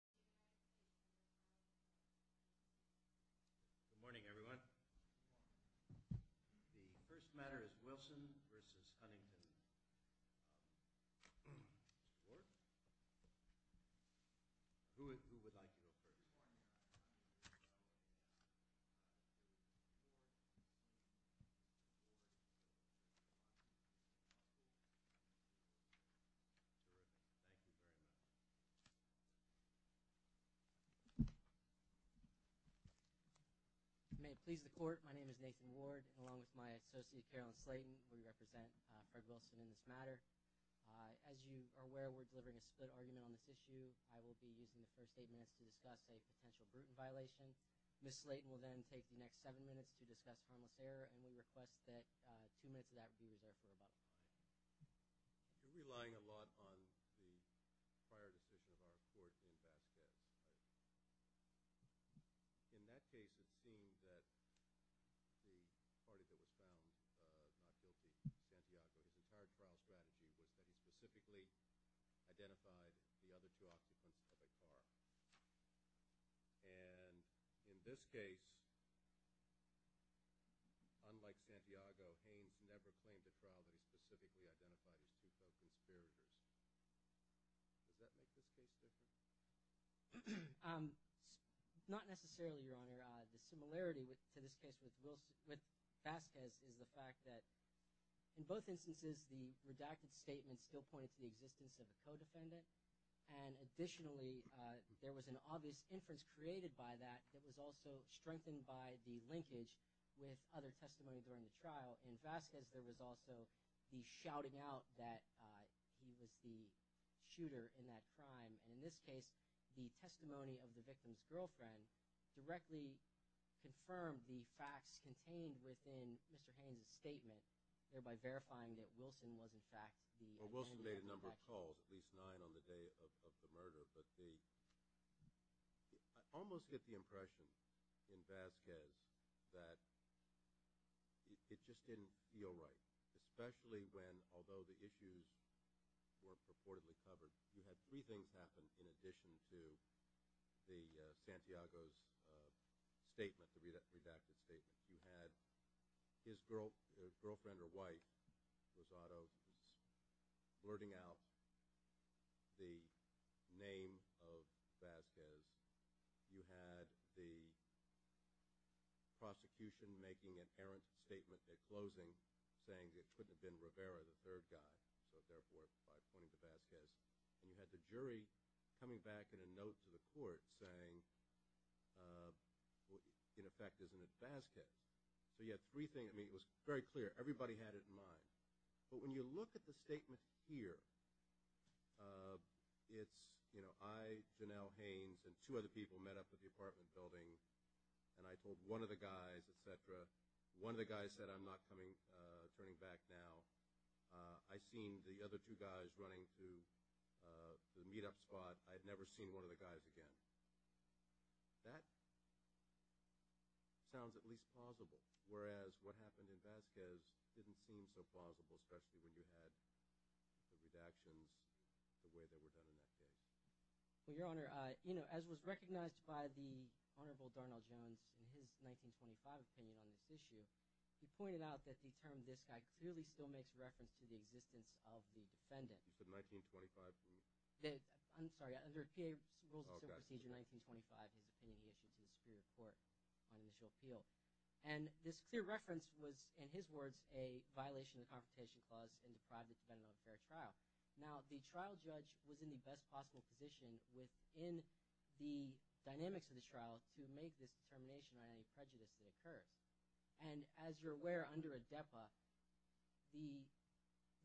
Good morning, everyone. The first matter is Wilson v. Huntington. Who would like to speak on this matter? As you are aware, we're delivering a split argument on this issue. I will be using the first eight minutes to discuss a potential Bruton violation. Ms. Slayton will then take the next seven minutes to discuss harmless error, and we request that two minutes of that be reversed. I'm relying a lot on the prior decision of our courts in that case. In that case, it seems that the parties that were found not guilty in Santiago's entire trial strategy was that he specifically identified the other two occupants that they found. And in this case, unlike Santiago, Haines never claimed to trial that he specifically identified his two close experiences. Does that make sense to you? Not necessarily, Your Honor. The similarity to this case with Vasquez is the fact that in both instances, the redacted statement still points to the existence of a co-defendant, and additionally, there was an obvious inference created by that that was also strengthened by the linkage with other testimony during the trial. In Vasquez, there was also the shouting out that he was the shooter in that crime. And in this case, the testimony of the victim's girlfriend directly confirmed the facts contained within Mr. Haines' statement, thereby verifying that Wilson was in fact the defendant. Well, Wilson made a number of calls, at least nine on the day of the murder. But I almost get the impression in Vasquez that it just didn't feel right, especially when although the issues were purportedly covered, you had three things happen in addition to Santiago's statement, the redacted statement. You had his girlfriend or wife, Rosado, blurting out the name of Vasquez. You had the prosecution making an errant statement at closing saying it couldn't have been Rivera, the third guy, but therefore it's by pointing to Vasquez. And you had the jury coming back in a note to the court saying, in effect, isn't it Vasquez? So you had three things. I mean, it was very clear. Everybody had it in mind. But when you look at the statement here, it's, you know, I, Janelle Haines, and two other people met up at the apartment building, and I told one of the guys, et cetera. One of the guys said, I'm not turning back now. I've seen the other two guys running to the meet-up spot. I've never seen one of the guys again. That sounds at least plausible, whereas what happened in Vasquez didn't seem so plausible, especially when you had the redactions the way they were done in that case. Well, Your Honor, you know, as was recognized by the Honorable Darnall Jones in his 1925 opinion on this issue, he pointed out that the term disc act clearly still makes reference to the existence of the defendant. You said 1925? I'm sorry. Under PA Rules of Simple Procedure 1925, the defendant was issued to the Supreme Court on initial appeal. And this clear reference was, in his words, a violation of the Confrontation Clause in the private defendant of a fair trial. Now, the trial judge was in the best possible position within the dynamics of the trial to make this determination on any prejudice that occurred. And as you're aware, under ADEPA,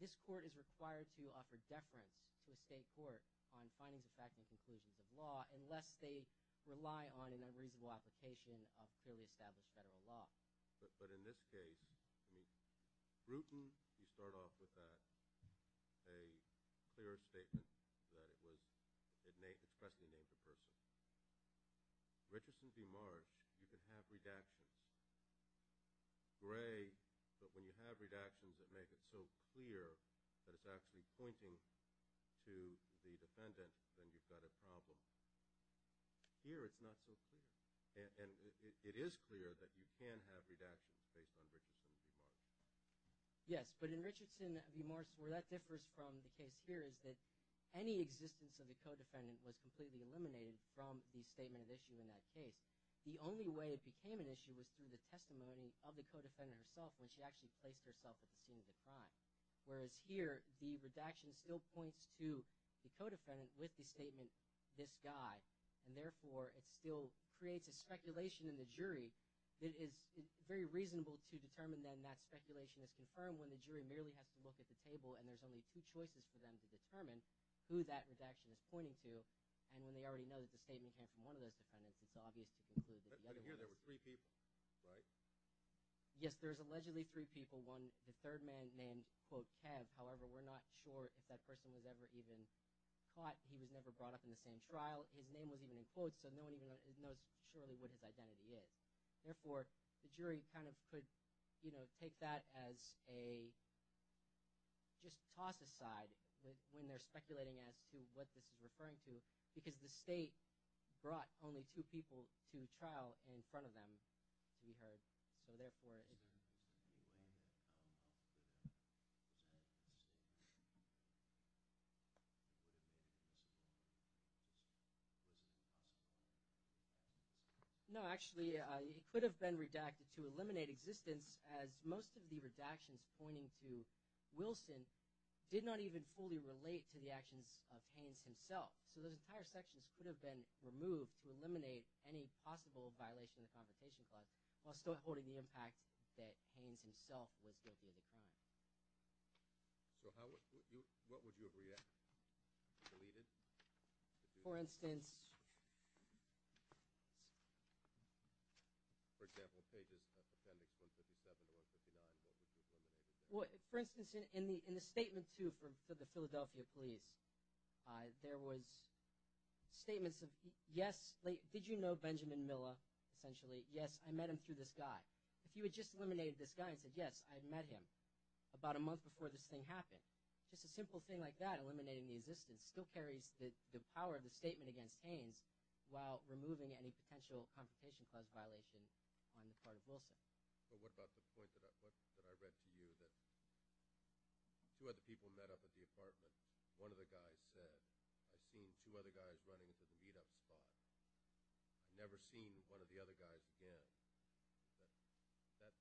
this court is required to offer deference to a state court on findings of fact and conclusions of law unless they rely on an unreasonable application of clearly established federal law. But in this case, I mean, Grutten, you start off with a clear statement that it was – it expressly made the person. Richardson v. Mars, you can have redactions. Gray, but when you have redactions that make it so clear that it's actually pointing to the defendant, then you've got a problem. Here it's not so clear. And it is clear that you can have redactions based on Richardson v. Mars. Yes, but in Richardson v. Mars, where that differs from the case here is that any existence of a co-defendant was completely eliminated. From the statement of issue in that case, the only way it became an issue was through the testimony of the co-defendant herself when she actually placed herself at the scene of the crime. Whereas here, the redaction still points to the co-defendant with the statement, this guy. And therefore, it still creates a speculation in the jury that is very reasonable to determine then that speculation is confirmed when the jury merely has to look at the table and there's only two choices for them to determine who that redaction is pointing to. And when they already know that the statement came from one of those defendants, it's obvious to conclude that the other one – But here there were three people, right? Yes, there's allegedly three people. The third man named, quote, Kev. However, we're not sure if that person was ever even caught. He was never brought up in the same trial. His name was even in quotes, so no one even knows surely what his identity is. Therefore, the jury kind of could, you know, take that as a – just toss aside when they're speculating as to what this is referring to because the state brought only two people to trial in front of them, we heard. So therefore, it is – No, actually, it could have been redacted to eliminate existence as most of the redactions pointing to Wilson did not even fully relate to the actions of Haynes himself. So those entire sections could have been removed to eliminate any possible violation of the Convocation Clause while still holding the impact that Haynes himself was guilty of the crime. So how would you – what would you have reacted? Deleted? For instance – For example, pages of appendix 157 to 159, what would you have done? Well, for instance, in the statement to the Philadelphia police, there was statements of, yes, did you know Benjamin Miller essentially? Yes, I met him through this guy. If you had just eliminated this guy and said, yes, I met him about a month before this thing happened, just a simple thing like that, eliminating the existence, still carries the power of the statement against Haynes while removing any potential Convocation Clause violation on the part of Wilson. Well, what about the point that I read to you that two other people met up at the apartment. One of the guys said, I've seen two other guys running into the meetup spot. I've never seen one of the other guys again. That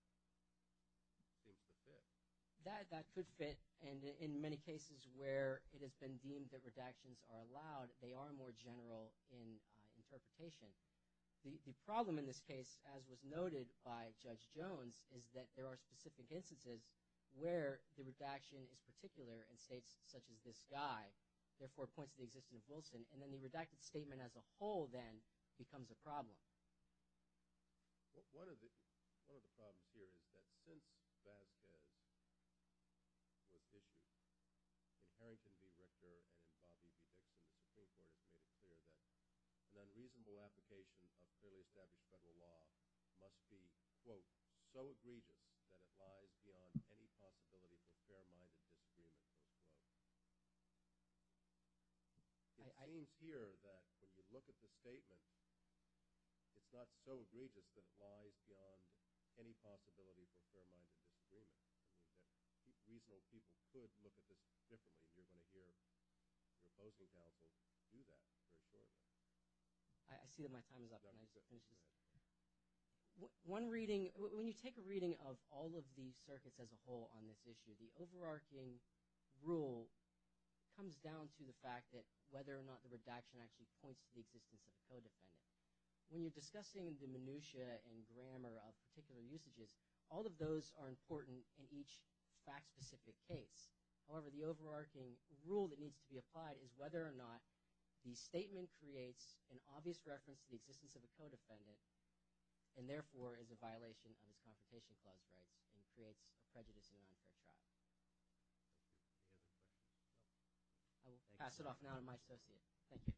seems to fit. That could fit, and in many cases where it has been deemed that redactions are allowed, they are more general in interpretation. The problem in this case, as was noted by Judge Jones, is that there are specific instances where the redaction is particular in states such as this guy. Therefore, it points to the existence of Wilson, and then the redacted statement as a whole then becomes a problem. One of the problems here is that since that day, with Hickman, and Harrington v. Richter and Bobby v. Hickman in particular, has made it clear that an unreasonable application of clearly established federal law must be, quote, so egregious that it lies beyond any possibility for fair-minded disagreement. It seems here that when you look at the statement, it's not so egregious that it lies beyond any possibility for fair-minded disagreement. Reasonable people could look at this differently. You're going to hear proposals now to do that. I see that my time is up. Thank you. When you take a reading of all of the circuits as a whole on this issue, the overarching rule comes down to the fact that whether or not the redaction actually points to the existence of a codefendant. When you're discussing the minutia and grammar of particular usages, all of those are important in each fact-specific case. However, the overarching rule that needs to be applied is whether or not the statement creates an obvious reference to the existence of a codefendant and, therefore, is a violation of his consultation clause rights and creates a prejudice in non-fair trial. I will pass it off now to my associate. Thank you.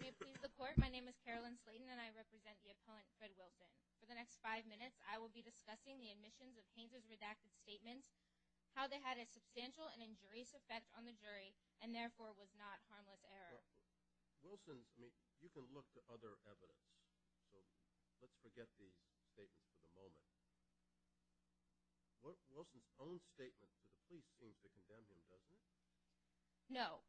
May it please the Court. My name is Carolyn Slayton, and I represent the opponent, Fred Wilson. For the next five minutes, I will be discussing the admissions of Painter's redacted statement, how they had a substantial and injurious effect on the jury and, therefore, was not harmless error. Wilson, I mean, you can look to other evidence. So let's forget the statement for the moment. Wilson's own statement to the police seems to condemn him, doesn't it? No.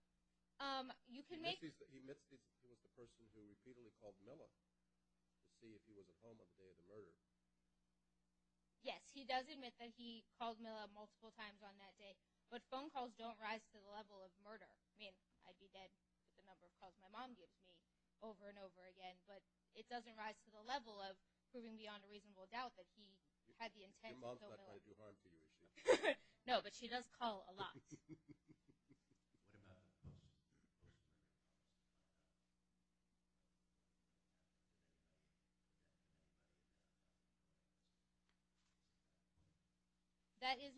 He admits that he was the person who repeatedly called Miller to see if he was at home on the day of the murder. Yes, he does admit that he called Miller multiple times on that day. But phone calls don't rise to the level of murder. I mean, I'd be dead with the number of calls my mom gives me over and over again. But it doesn't rise to the level of proving beyond a reasonable doubt that he had the intent to kill Miller. Your mom's not going to do harm to you, is she? No, but she does call a lot. What about?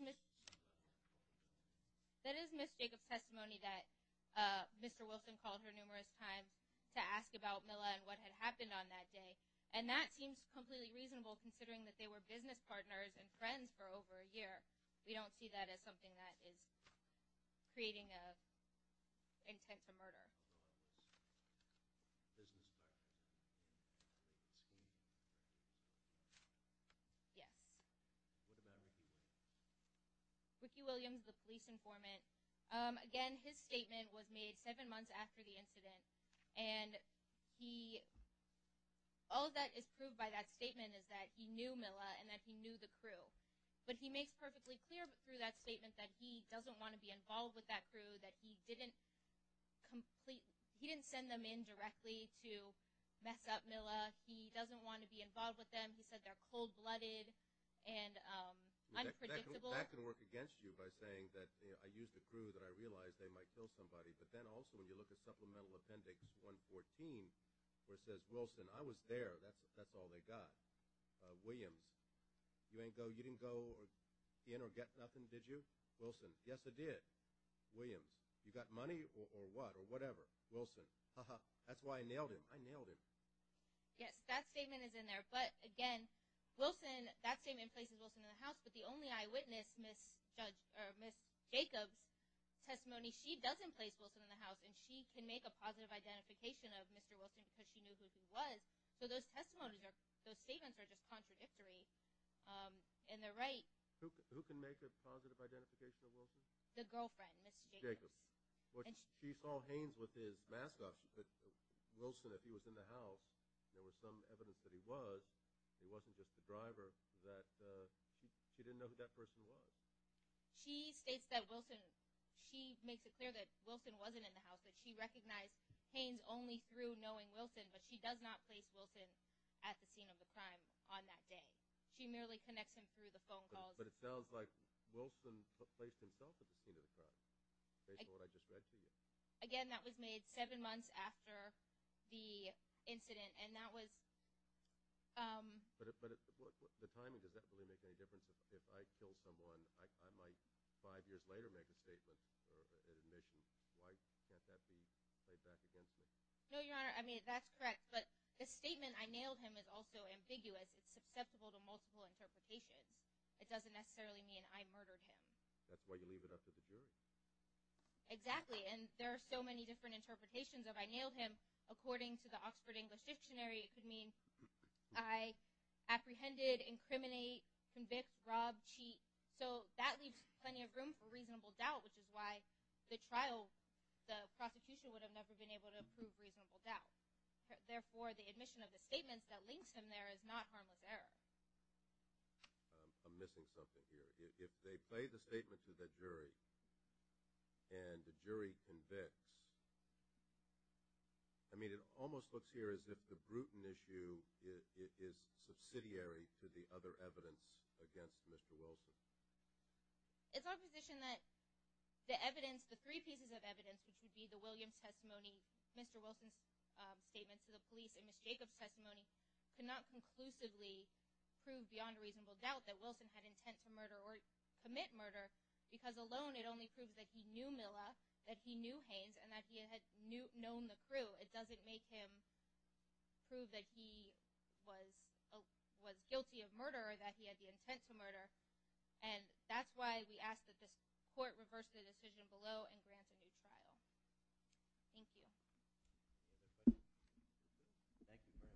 That is Ms. Jacob's testimony that Mr. Wilson called her numerous times to ask about Miller and what had happened on that day. And that seems completely reasonable considering that they were business partners and friends for over a year. We don't see that as something that is creating an intent to murder. Yes. Ricky Williams, the police informant. Again, his statement was made seven months after the incident. And all that is proved by that statement is that he knew Miller and that he knew the crew. But he makes perfectly clear through that statement that he doesn't want to be involved with that crew, that he didn't send them in directly to mess up Miller. He doesn't want to be involved with them. He said they're cold-blooded and unpredictable. That could work against you by saying that I used a crew that I realized they might kill somebody. But then also when you look at Supplemental Appendix 114 where it says, Wilson, I was there. That's all they got. Williams, you didn't go in or get nothing, did you? Wilson, yes, I did. Williams, you got money or what or whatever? Wilson, ha-ha, that's why I nailed him. I nailed him. Yes, that statement is in there. But, again, Wilson, that statement places Wilson in the house. But the only eyewitness, Ms. Jacob's testimony, she doesn't place Wilson in the house. And she can make a positive identification of Mr. Wilson because she knew who he was. So those testimonies or those statements are just contradictory. And they're right. Who can make a positive identification of Wilson? The girlfriend, Ms. Jacob. She saw Haynes with his mask off. She said, Wilson, if he was in the house, there was some evidence that he was. It wasn't just the driver. She didn't know who that person was. She states that Wilson, she makes it clear that Wilson wasn't in the house, that she recognized Haynes only through knowing Wilson, but she does not place Wilson at the scene of the crime on that day. She merely connects him through the phone calls. But it sounds like Wilson placed himself at the scene of the crime, based on what I just read to you. Again, that was made seven months after the incident, and that was— But the timing, does that really make any difference? If I kill someone, I might five years later make a statement and admit to twice. Can't that be played back again? No, Your Honor. I mean, that's correct. But the statement, I nailed him, is also ambiguous. It's susceptible to multiple interpretations. It doesn't necessarily mean I murdered him. That's why you leave it up to the jury. Exactly. And there are so many different interpretations. If I nailed him, according to the Oxford English Dictionary, it could mean I apprehended, incriminate, convict, rob, cheat. So that leaves plenty of room for reasonable doubt, which is why the trial, the prosecution would have never been able to prove reasonable doubt. Therefore, the admission of the statement that links him there is not harmless error. I'm missing something here. If they play the statement to the jury and the jury convicts, I mean, it almost looks here as if the Bruton issue is subsidiary to the other evidence against Mr. Wilson. It's our position that the evidence, the three pieces of evidence, which would be the Williams testimony, Mr. Wilson's statement to the police, and Ms. Jacobs' testimony, could not conclusively prove beyond reasonable doubt that Wilson had intent to murder or commit murder, because alone it only proves that he knew Milla, that he knew Haynes, and that he had known the crew. It doesn't make him prove that he was guilty of murder or that he had the intent to murder. And that's why we ask that this court reverse the decision below and grant a new trial. Thank you. Thank you very much.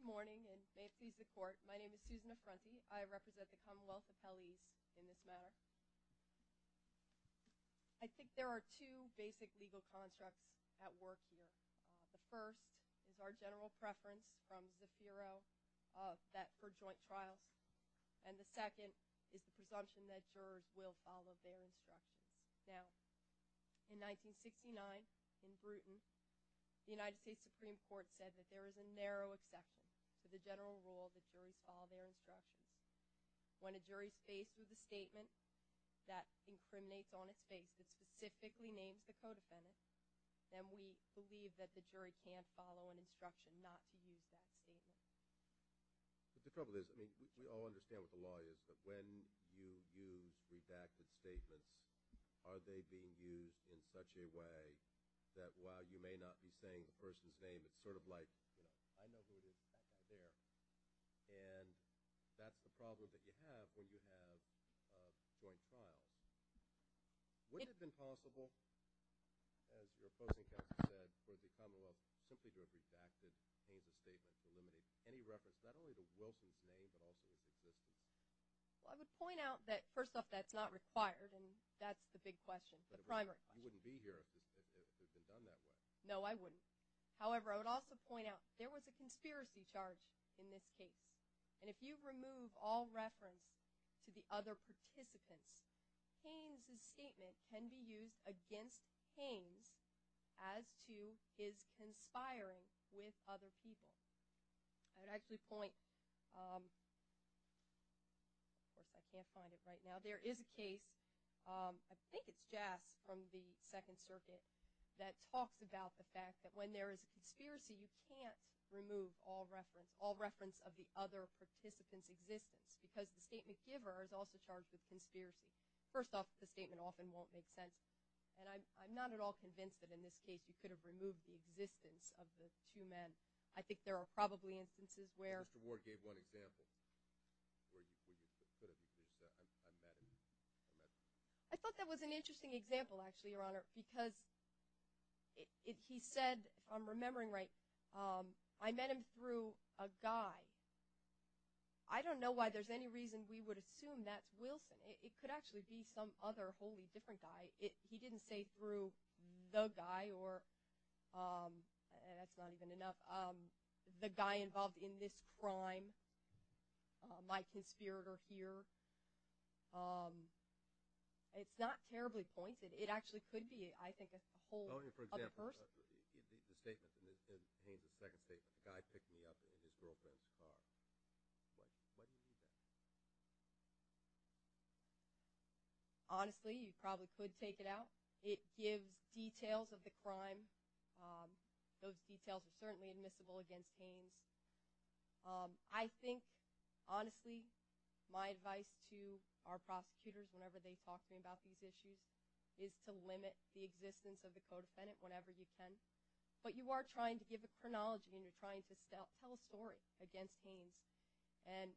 Good morning, and may it please the court. My name is Susan Affronti. I represent the Commonwealth Appellees in this matter. I think there are two basic legal constructs at work here. The first is our general preference from the Bureau for joint trials, and the second is the presumption that jurors will follow their instructions. Now, in 1969, in Bruton, the United States Supreme Court said that there is a narrow exception to the general rule that jurors follow their instructions. When a jury is faced with a statement that incriminates on its face, that specifically names the co-defendant, then we believe that the jury can't follow an instruction not to use that statement. But the trouble is, I mean, we all understand what the law is, but when you use these active statements, are they being used in such a way that, while you may not be saying the person's name, it's sort of like, you know, I know who it is, I'm out there. And that's the problem that you have when you have a joint trial. Would it have been possible, as your opposing counsel said, for the Commonwealth simply to have rejected and changed the statement to eliminate any reference, not only to Wilkie's name, but also his position? Well, I would point out that, first off, that's not required, and that's the big question, the primary question. But you wouldn't be here if it had been done that way. No, I wouldn't. However, I would also point out there was a conspiracy charge in this case. And if you remove all reference to the other participants, Haynes's statement can be used against Haynes as to his conspiring with other people. I would actually point – I can't find it right now. There is a case, I think it's Jass from the Second Circuit, that talks about the fact that when there is a conspiracy, you can't remove all reference, of the other participant's existence, because the statement giver is also charged with conspiracy. First off, the statement often won't make sense. And I'm not at all convinced that in this case you could have removed the existence of the two men. I think there are probably instances where – Mr. Ward gave one example where you could have used a metaphor. I thought that was an interesting example, actually, Your Honor, because he said, if I'm remembering right, I met him through a guy. I don't know why there's any reason we would assume that's Wilson. It could actually be some other wholly different guy. He didn't say through the guy or – that's not even enough – the guy involved in this crime, my conspirator here. It's not terribly pointed. It actually could be, I think, a whole other first. For example, the statement that Haynes's second statement, the guy picked me up and his girlfriend's car. What do you make of that? Honestly, you probably could take it out. It gives details of the crime. Those details are certainly admissible against Haynes. I think, honestly, my advice to our prosecutors whenever they talk to me about these issues is to limit the existence of the co-defendant whenever you can. But you are trying to give a chronology, and you're trying to tell a story against Haynes. And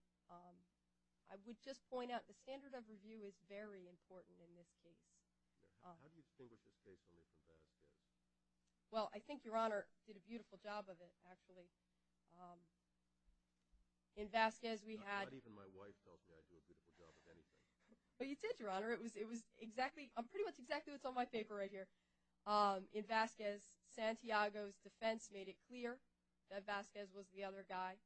I would just point out the standard of review is very important in this case. How do you distinguish the stakes on this in Vasquez? Well, I think Your Honor did a beautiful job of it, actually. In Vasquez, we had – Not even my wife felt the idea did a good job of anything. But you did, Your Honor. It was exactly – pretty much exactly what's on my paper right here. In Vasquez, Santiago's defense made it clear that Vasquez was the other guy.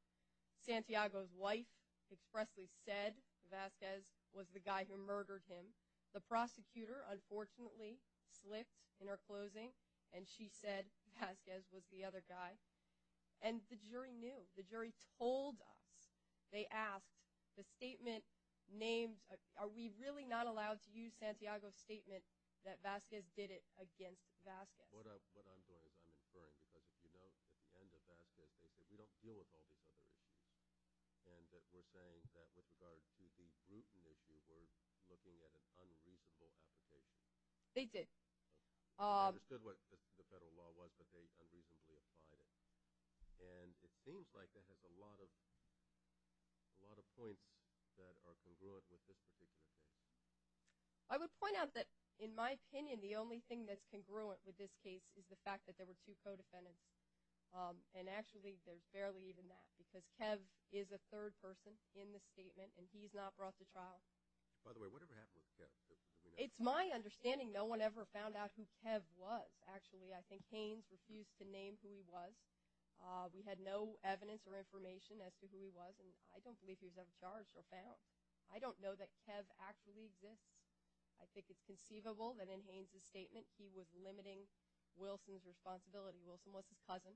Santiago's wife expressly said Vasquez was the guy who murdered him. The prosecutor, unfortunately, slipped in her closing, and she said Vasquez was the other guy. And the jury knew. The jury told us. They asked the statement named – are we really not allowed to use Santiago's statement that Vasquez did it against Vasquez? What I'm doing is I'm inferring because, as you know, at the end of Vasquez, they said we don't deal with all these other issues, and that we're saying that with regard to the gluten issue, we're looking at an unreasonable application. They did. They understood what the federal law was, but they unreasonably applied it. And it seems like that has a lot of points that are congruent with this particular case. I would point out that, in my opinion, the only thing that's congruent with this case is the fact that there were two co-defendants. And actually, there's barely even that, because Kev is a third person in the statement, and he's not brought to trial. By the way, whatever happened with Kev? It's my understanding no one ever found out who Kev was, actually. I think Haynes refused to name who he was. We had no evidence or information as to who he was, and I don't believe he was ever charged or found. I don't know that Kev actually exists. I think it's conceivable that in Haynes' statement he was limiting Wilson's responsibility. Wilson was his cousin.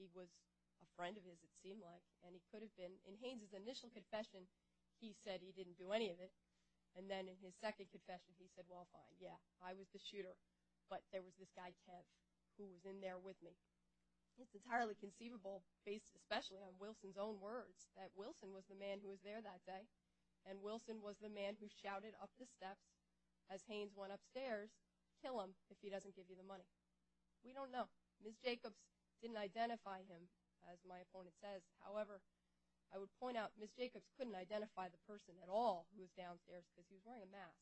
He was a friend of his, it seemed like, and he could have been. In Haynes' initial confession, he said he didn't do any of it. And then in his second confession, he said, well, fine, yeah, I was the shooter. But there was this guy, Kev, who was in there with me. It's entirely conceivable, based especially on Wilson's own words, that Wilson was the man who was there that day, and Wilson was the man who shouted up the steps as Haynes went upstairs, kill him if he doesn't give you the money. We don't know. Ms. Jacobs didn't identify him, as my opponent says. However, I would point out Ms. Jacobs couldn't identify the person at all who was downstairs because he was wearing a mask.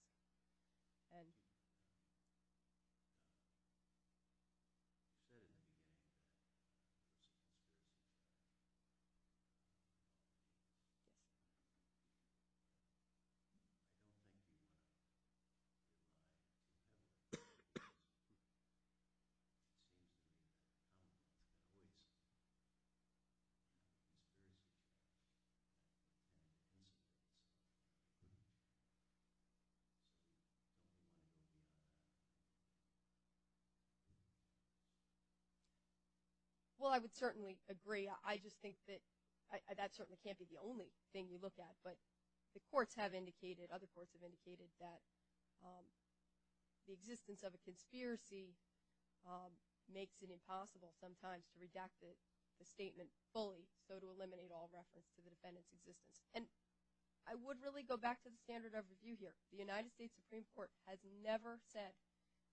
Well, I would certainly agree. I just think that that certainly can't be the only thing we look at. But the courts have indicated, other courts have indicated, that the existence of a conspiracy makes it impossible sometimes to redact the statement fully so to eliminate all reference to the defendant's existence. And I would really go back to the standard of review here. The United States Supreme Court has never said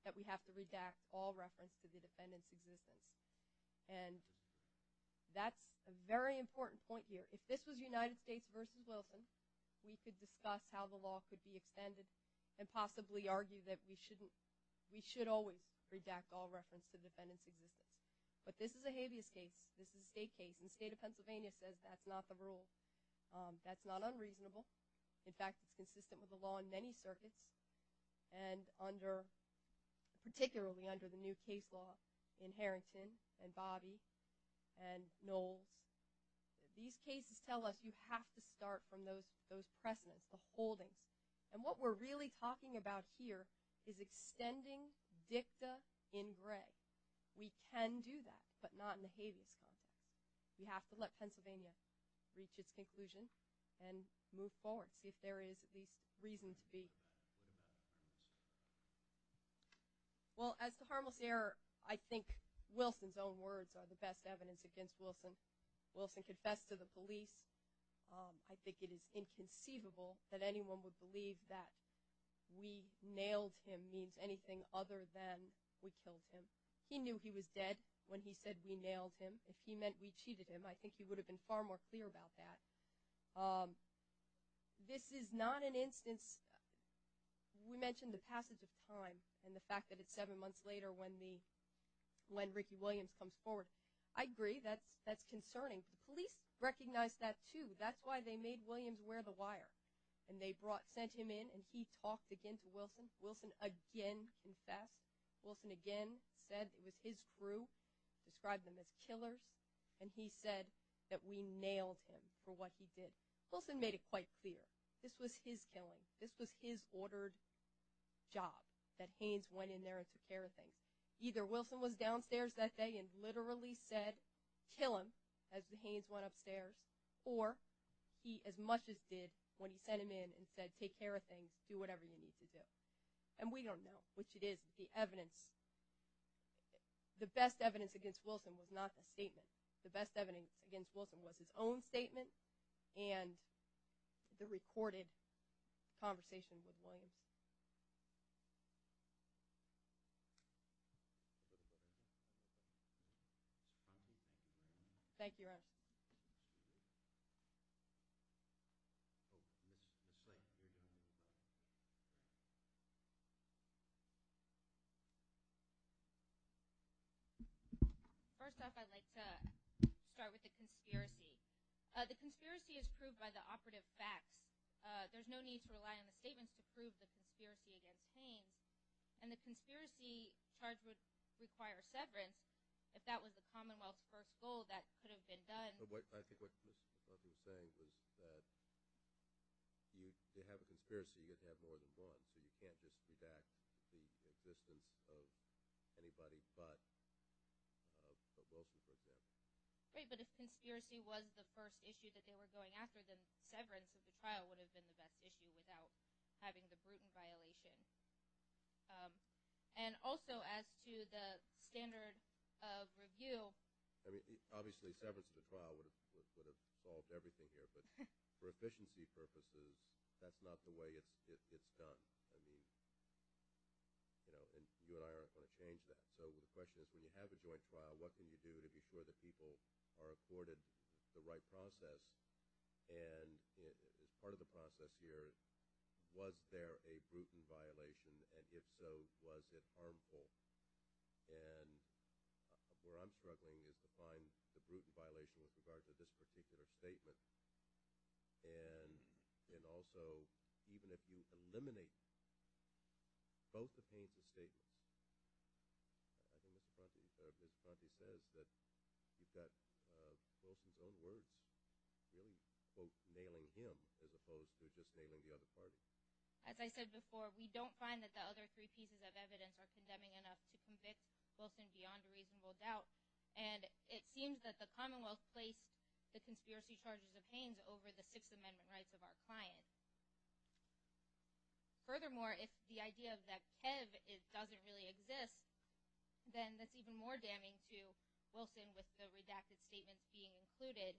that we have to redact all reference to the defendant's existence. And that's a very important point here. If this was United States versus Wilson, we could discuss how the law could be extended and possibly argue that we should always redact all reference to the defendant's existence. But this is a habeas case. This is a state case. The state of Pennsylvania says that's not the rule. That's not unreasonable. In fact, it's consistent with the law in many circuits, and particularly under the new case law in Harrington and Bobby and Knowles. These cases tell us you have to start from those precedents, the holdings. And what we're really talking about here is extending dicta in gray. We can do that, but not in a habeas context. We have to let Pennsylvania reach its conclusion and move forward, see if there is at least reason to be. Well, as to harmless error, I think Wilson's own words are the best evidence against Wilson. Wilson confessed to the police. I think it is inconceivable that anyone would believe that we nailed him if he means anything other than we killed him. He knew he was dead when he said we nailed him. If he meant we cheated him, I think he would have been far more clear about that. This is not an instance – we mentioned the passage of time and the fact that it's seven months later when Ricky Williams comes forward. I agree. That's concerning. The police recognized that, too. That's why they made Williams wear the wire. And they sent him in, and he talked again to Wilson. Wilson again confessed. Wilson again said it was his crew, described them as killers, and he said that we nailed him for what he did. Wilson made it quite clear this was his killing. This was his ordered job, that Haynes went in there and took care of things. Either Wilson was downstairs that day and literally said, kill him, as the Haynes went upstairs, or he as much as did when he sent him in and said, take care of things, do whatever you need to do. And we don't know, which it is. The evidence – the best evidence against Wilson was not the statement. The best evidence against Wilson was his own statement and the recorded conversation with Williams. Thank you. Thank you, Russ. First off, I'd like to start with the conspiracy. The conspiracy is proved by the operative facts. There's no need to rely on the statements to prove the conspiracy against Haynes. And the conspiracy charge would require severance. If that was the Commonwealth's first goal, that could have been done. I think what you're saying is that if you have a conspiracy, you have to have more than one, so you can't just do that to the existence of anybody but the Wilson case. Right, but if conspiracy was the first issue that they were going after, then severance of the trial would have been the best issue without having the Bruton violation. And also, as to the standard of review – I mean, obviously, severance of the trial would have solved everything here. But for efficiency purposes, that's not the way it's done. I mean, you know, and you and I aren't going to change that. So the question is, when you have a joint trial, what can you do before the people are afforded the right process? And part of the process here, was there a Bruton violation? And if so, was it harmful? And where I'm struggling is to find the Bruton violation with regard to this particular statement. And also, even if you eliminate both of Haynes' statements – I think Mr. Conte said, Mr. Conte says that he's got Wilson's own words, really, quote, nailing him as opposed to just nailing the other party. As I said before, we don't find that the other three pieces of evidence are condemning enough to convict Wilson beyond reasonable doubt. And it seems that the Commonwealth placed the conspiracy charges of Haynes over the Sixth Amendment rights of our client. Furthermore, if the idea of the Kev doesn't really exist, then that's even more damning to Wilson with the redacted statements being included.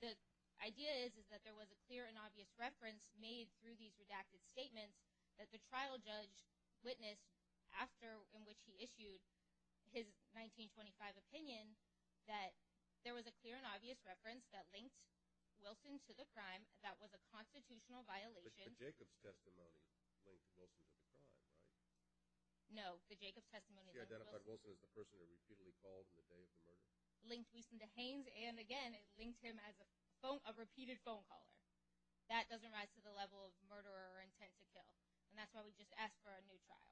The idea is that there was a clear and obvious reference made through these redacted statements that the trial judge witnessed after in which he issued his 1925 opinion that there was a clear and obvious reference that linked Wilson to the crime that was a constitutional violation – But Jacob's testimony linked Wilson to the crime, right? No, the Jacob testimony – You identified Wilson as the person who repeatedly called in the day of the murder. – linked Wilson to Haynes and, again, linked him as a phone – a repeated phone caller. That doesn't rise to the level of murder or intent to kill, and that's why we just asked for a new trial.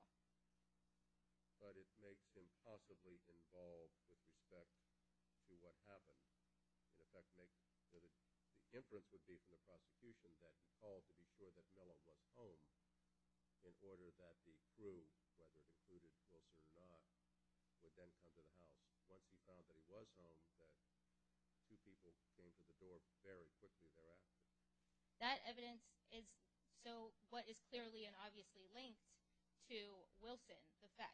But it makes him possibly involved with respect to what happened. In effect, the inference would be from the prosecution that he called to be sure that Miller was home in order that the proof, whether the evidence was true or not, would then come to the House. Once he found that he was home, the two people came to the door very quickly thereafter. That evidence is so what is clearly and obviously linked to Wilson.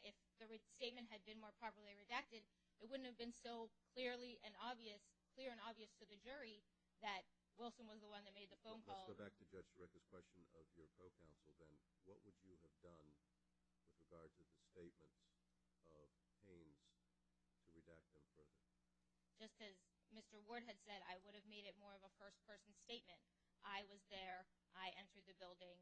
If the statement had been more properly redacted, it wouldn't have been so clearly and obvious to the jury that Wilson was the one that made the phone call. Let's go back to Judge Brett's question of your co-counsel, then. What would you have done with regard to the statement of Haynes to redact that statement? Just as Mr. Ward had said, I would have made it more of a first-person statement. I was there. I entered the building.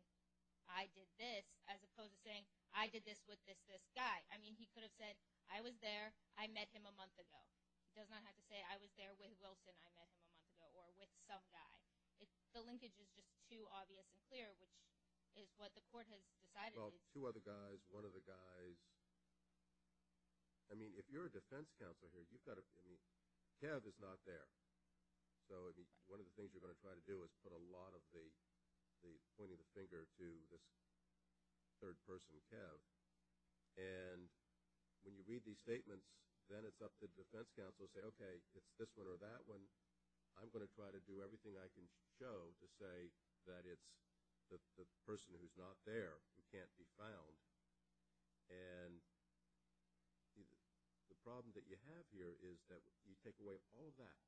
I did this, as opposed to saying, I did this with this, this guy. I mean, he could have said, I was there. I met him a month ago. He does not have to say, I was there with Wilson. I met him a month ago, or with some guy. The linkage is just too obvious and clear, which is what the court has decided. Well, two other guys, one of the guys. I mean, if you're a defense counsel here, you've got to – Kev is not there. So one of the things you're going to try to do is put a lot of the pointing the finger to this third-person Kev. And when you read these statements, then it's up to defense counsel to say, okay, it's this one or that one. I'm going to try to do everything I can show to say that it's the person who's not there who can't be found. And the problem that you have here is that you take away all of that,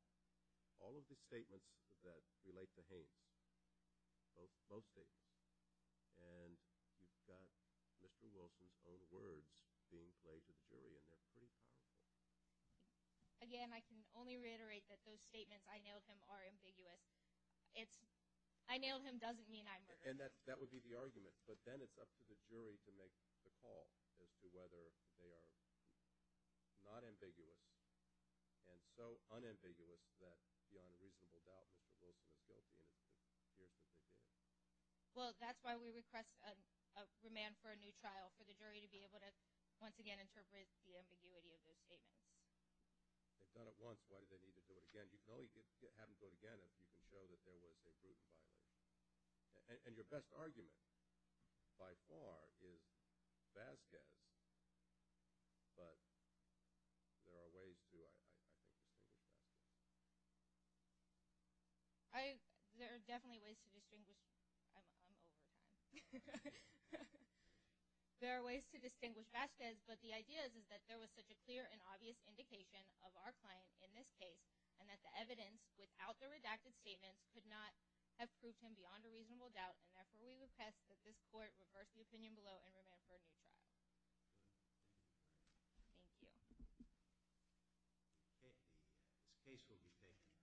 all of the statements that relate to Haines, both statements. And you've got Mr. Wilson's own words being played to the jury, and they're pretty clear. Again, I can only reiterate that those statements, I nailed him, are ambiguous. I nailed him doesn't mean I murdered him. And that would be the argument. But then it's up to the jury to make the call as to whether they are not ambiguous and so unambiguous that beyond a reasonable doubt Mr. Wilson is guilty and appears to be guilty. Well, that's why we request a remand for a new trial, for the jury to be able to once again interpret the ambiguity of those statements. If not at once, why do they need to do it again? You can only have them do it again if you can show that there was a brutal violence. And your best argument by far is Vasquez, but there are ways to distinguish that. There are definitely ways to distinguish – I'm over it. There are ways to distinguish Vasquez, but the idea is that there was such a clear and obvious indication of our client in this case and that the evidence without the redacted statements could not have proved him beyond a reasonable doubt. And therefore, we request that this court reverse the opinion below and remand for a new trial. Thank you. The case will be paid.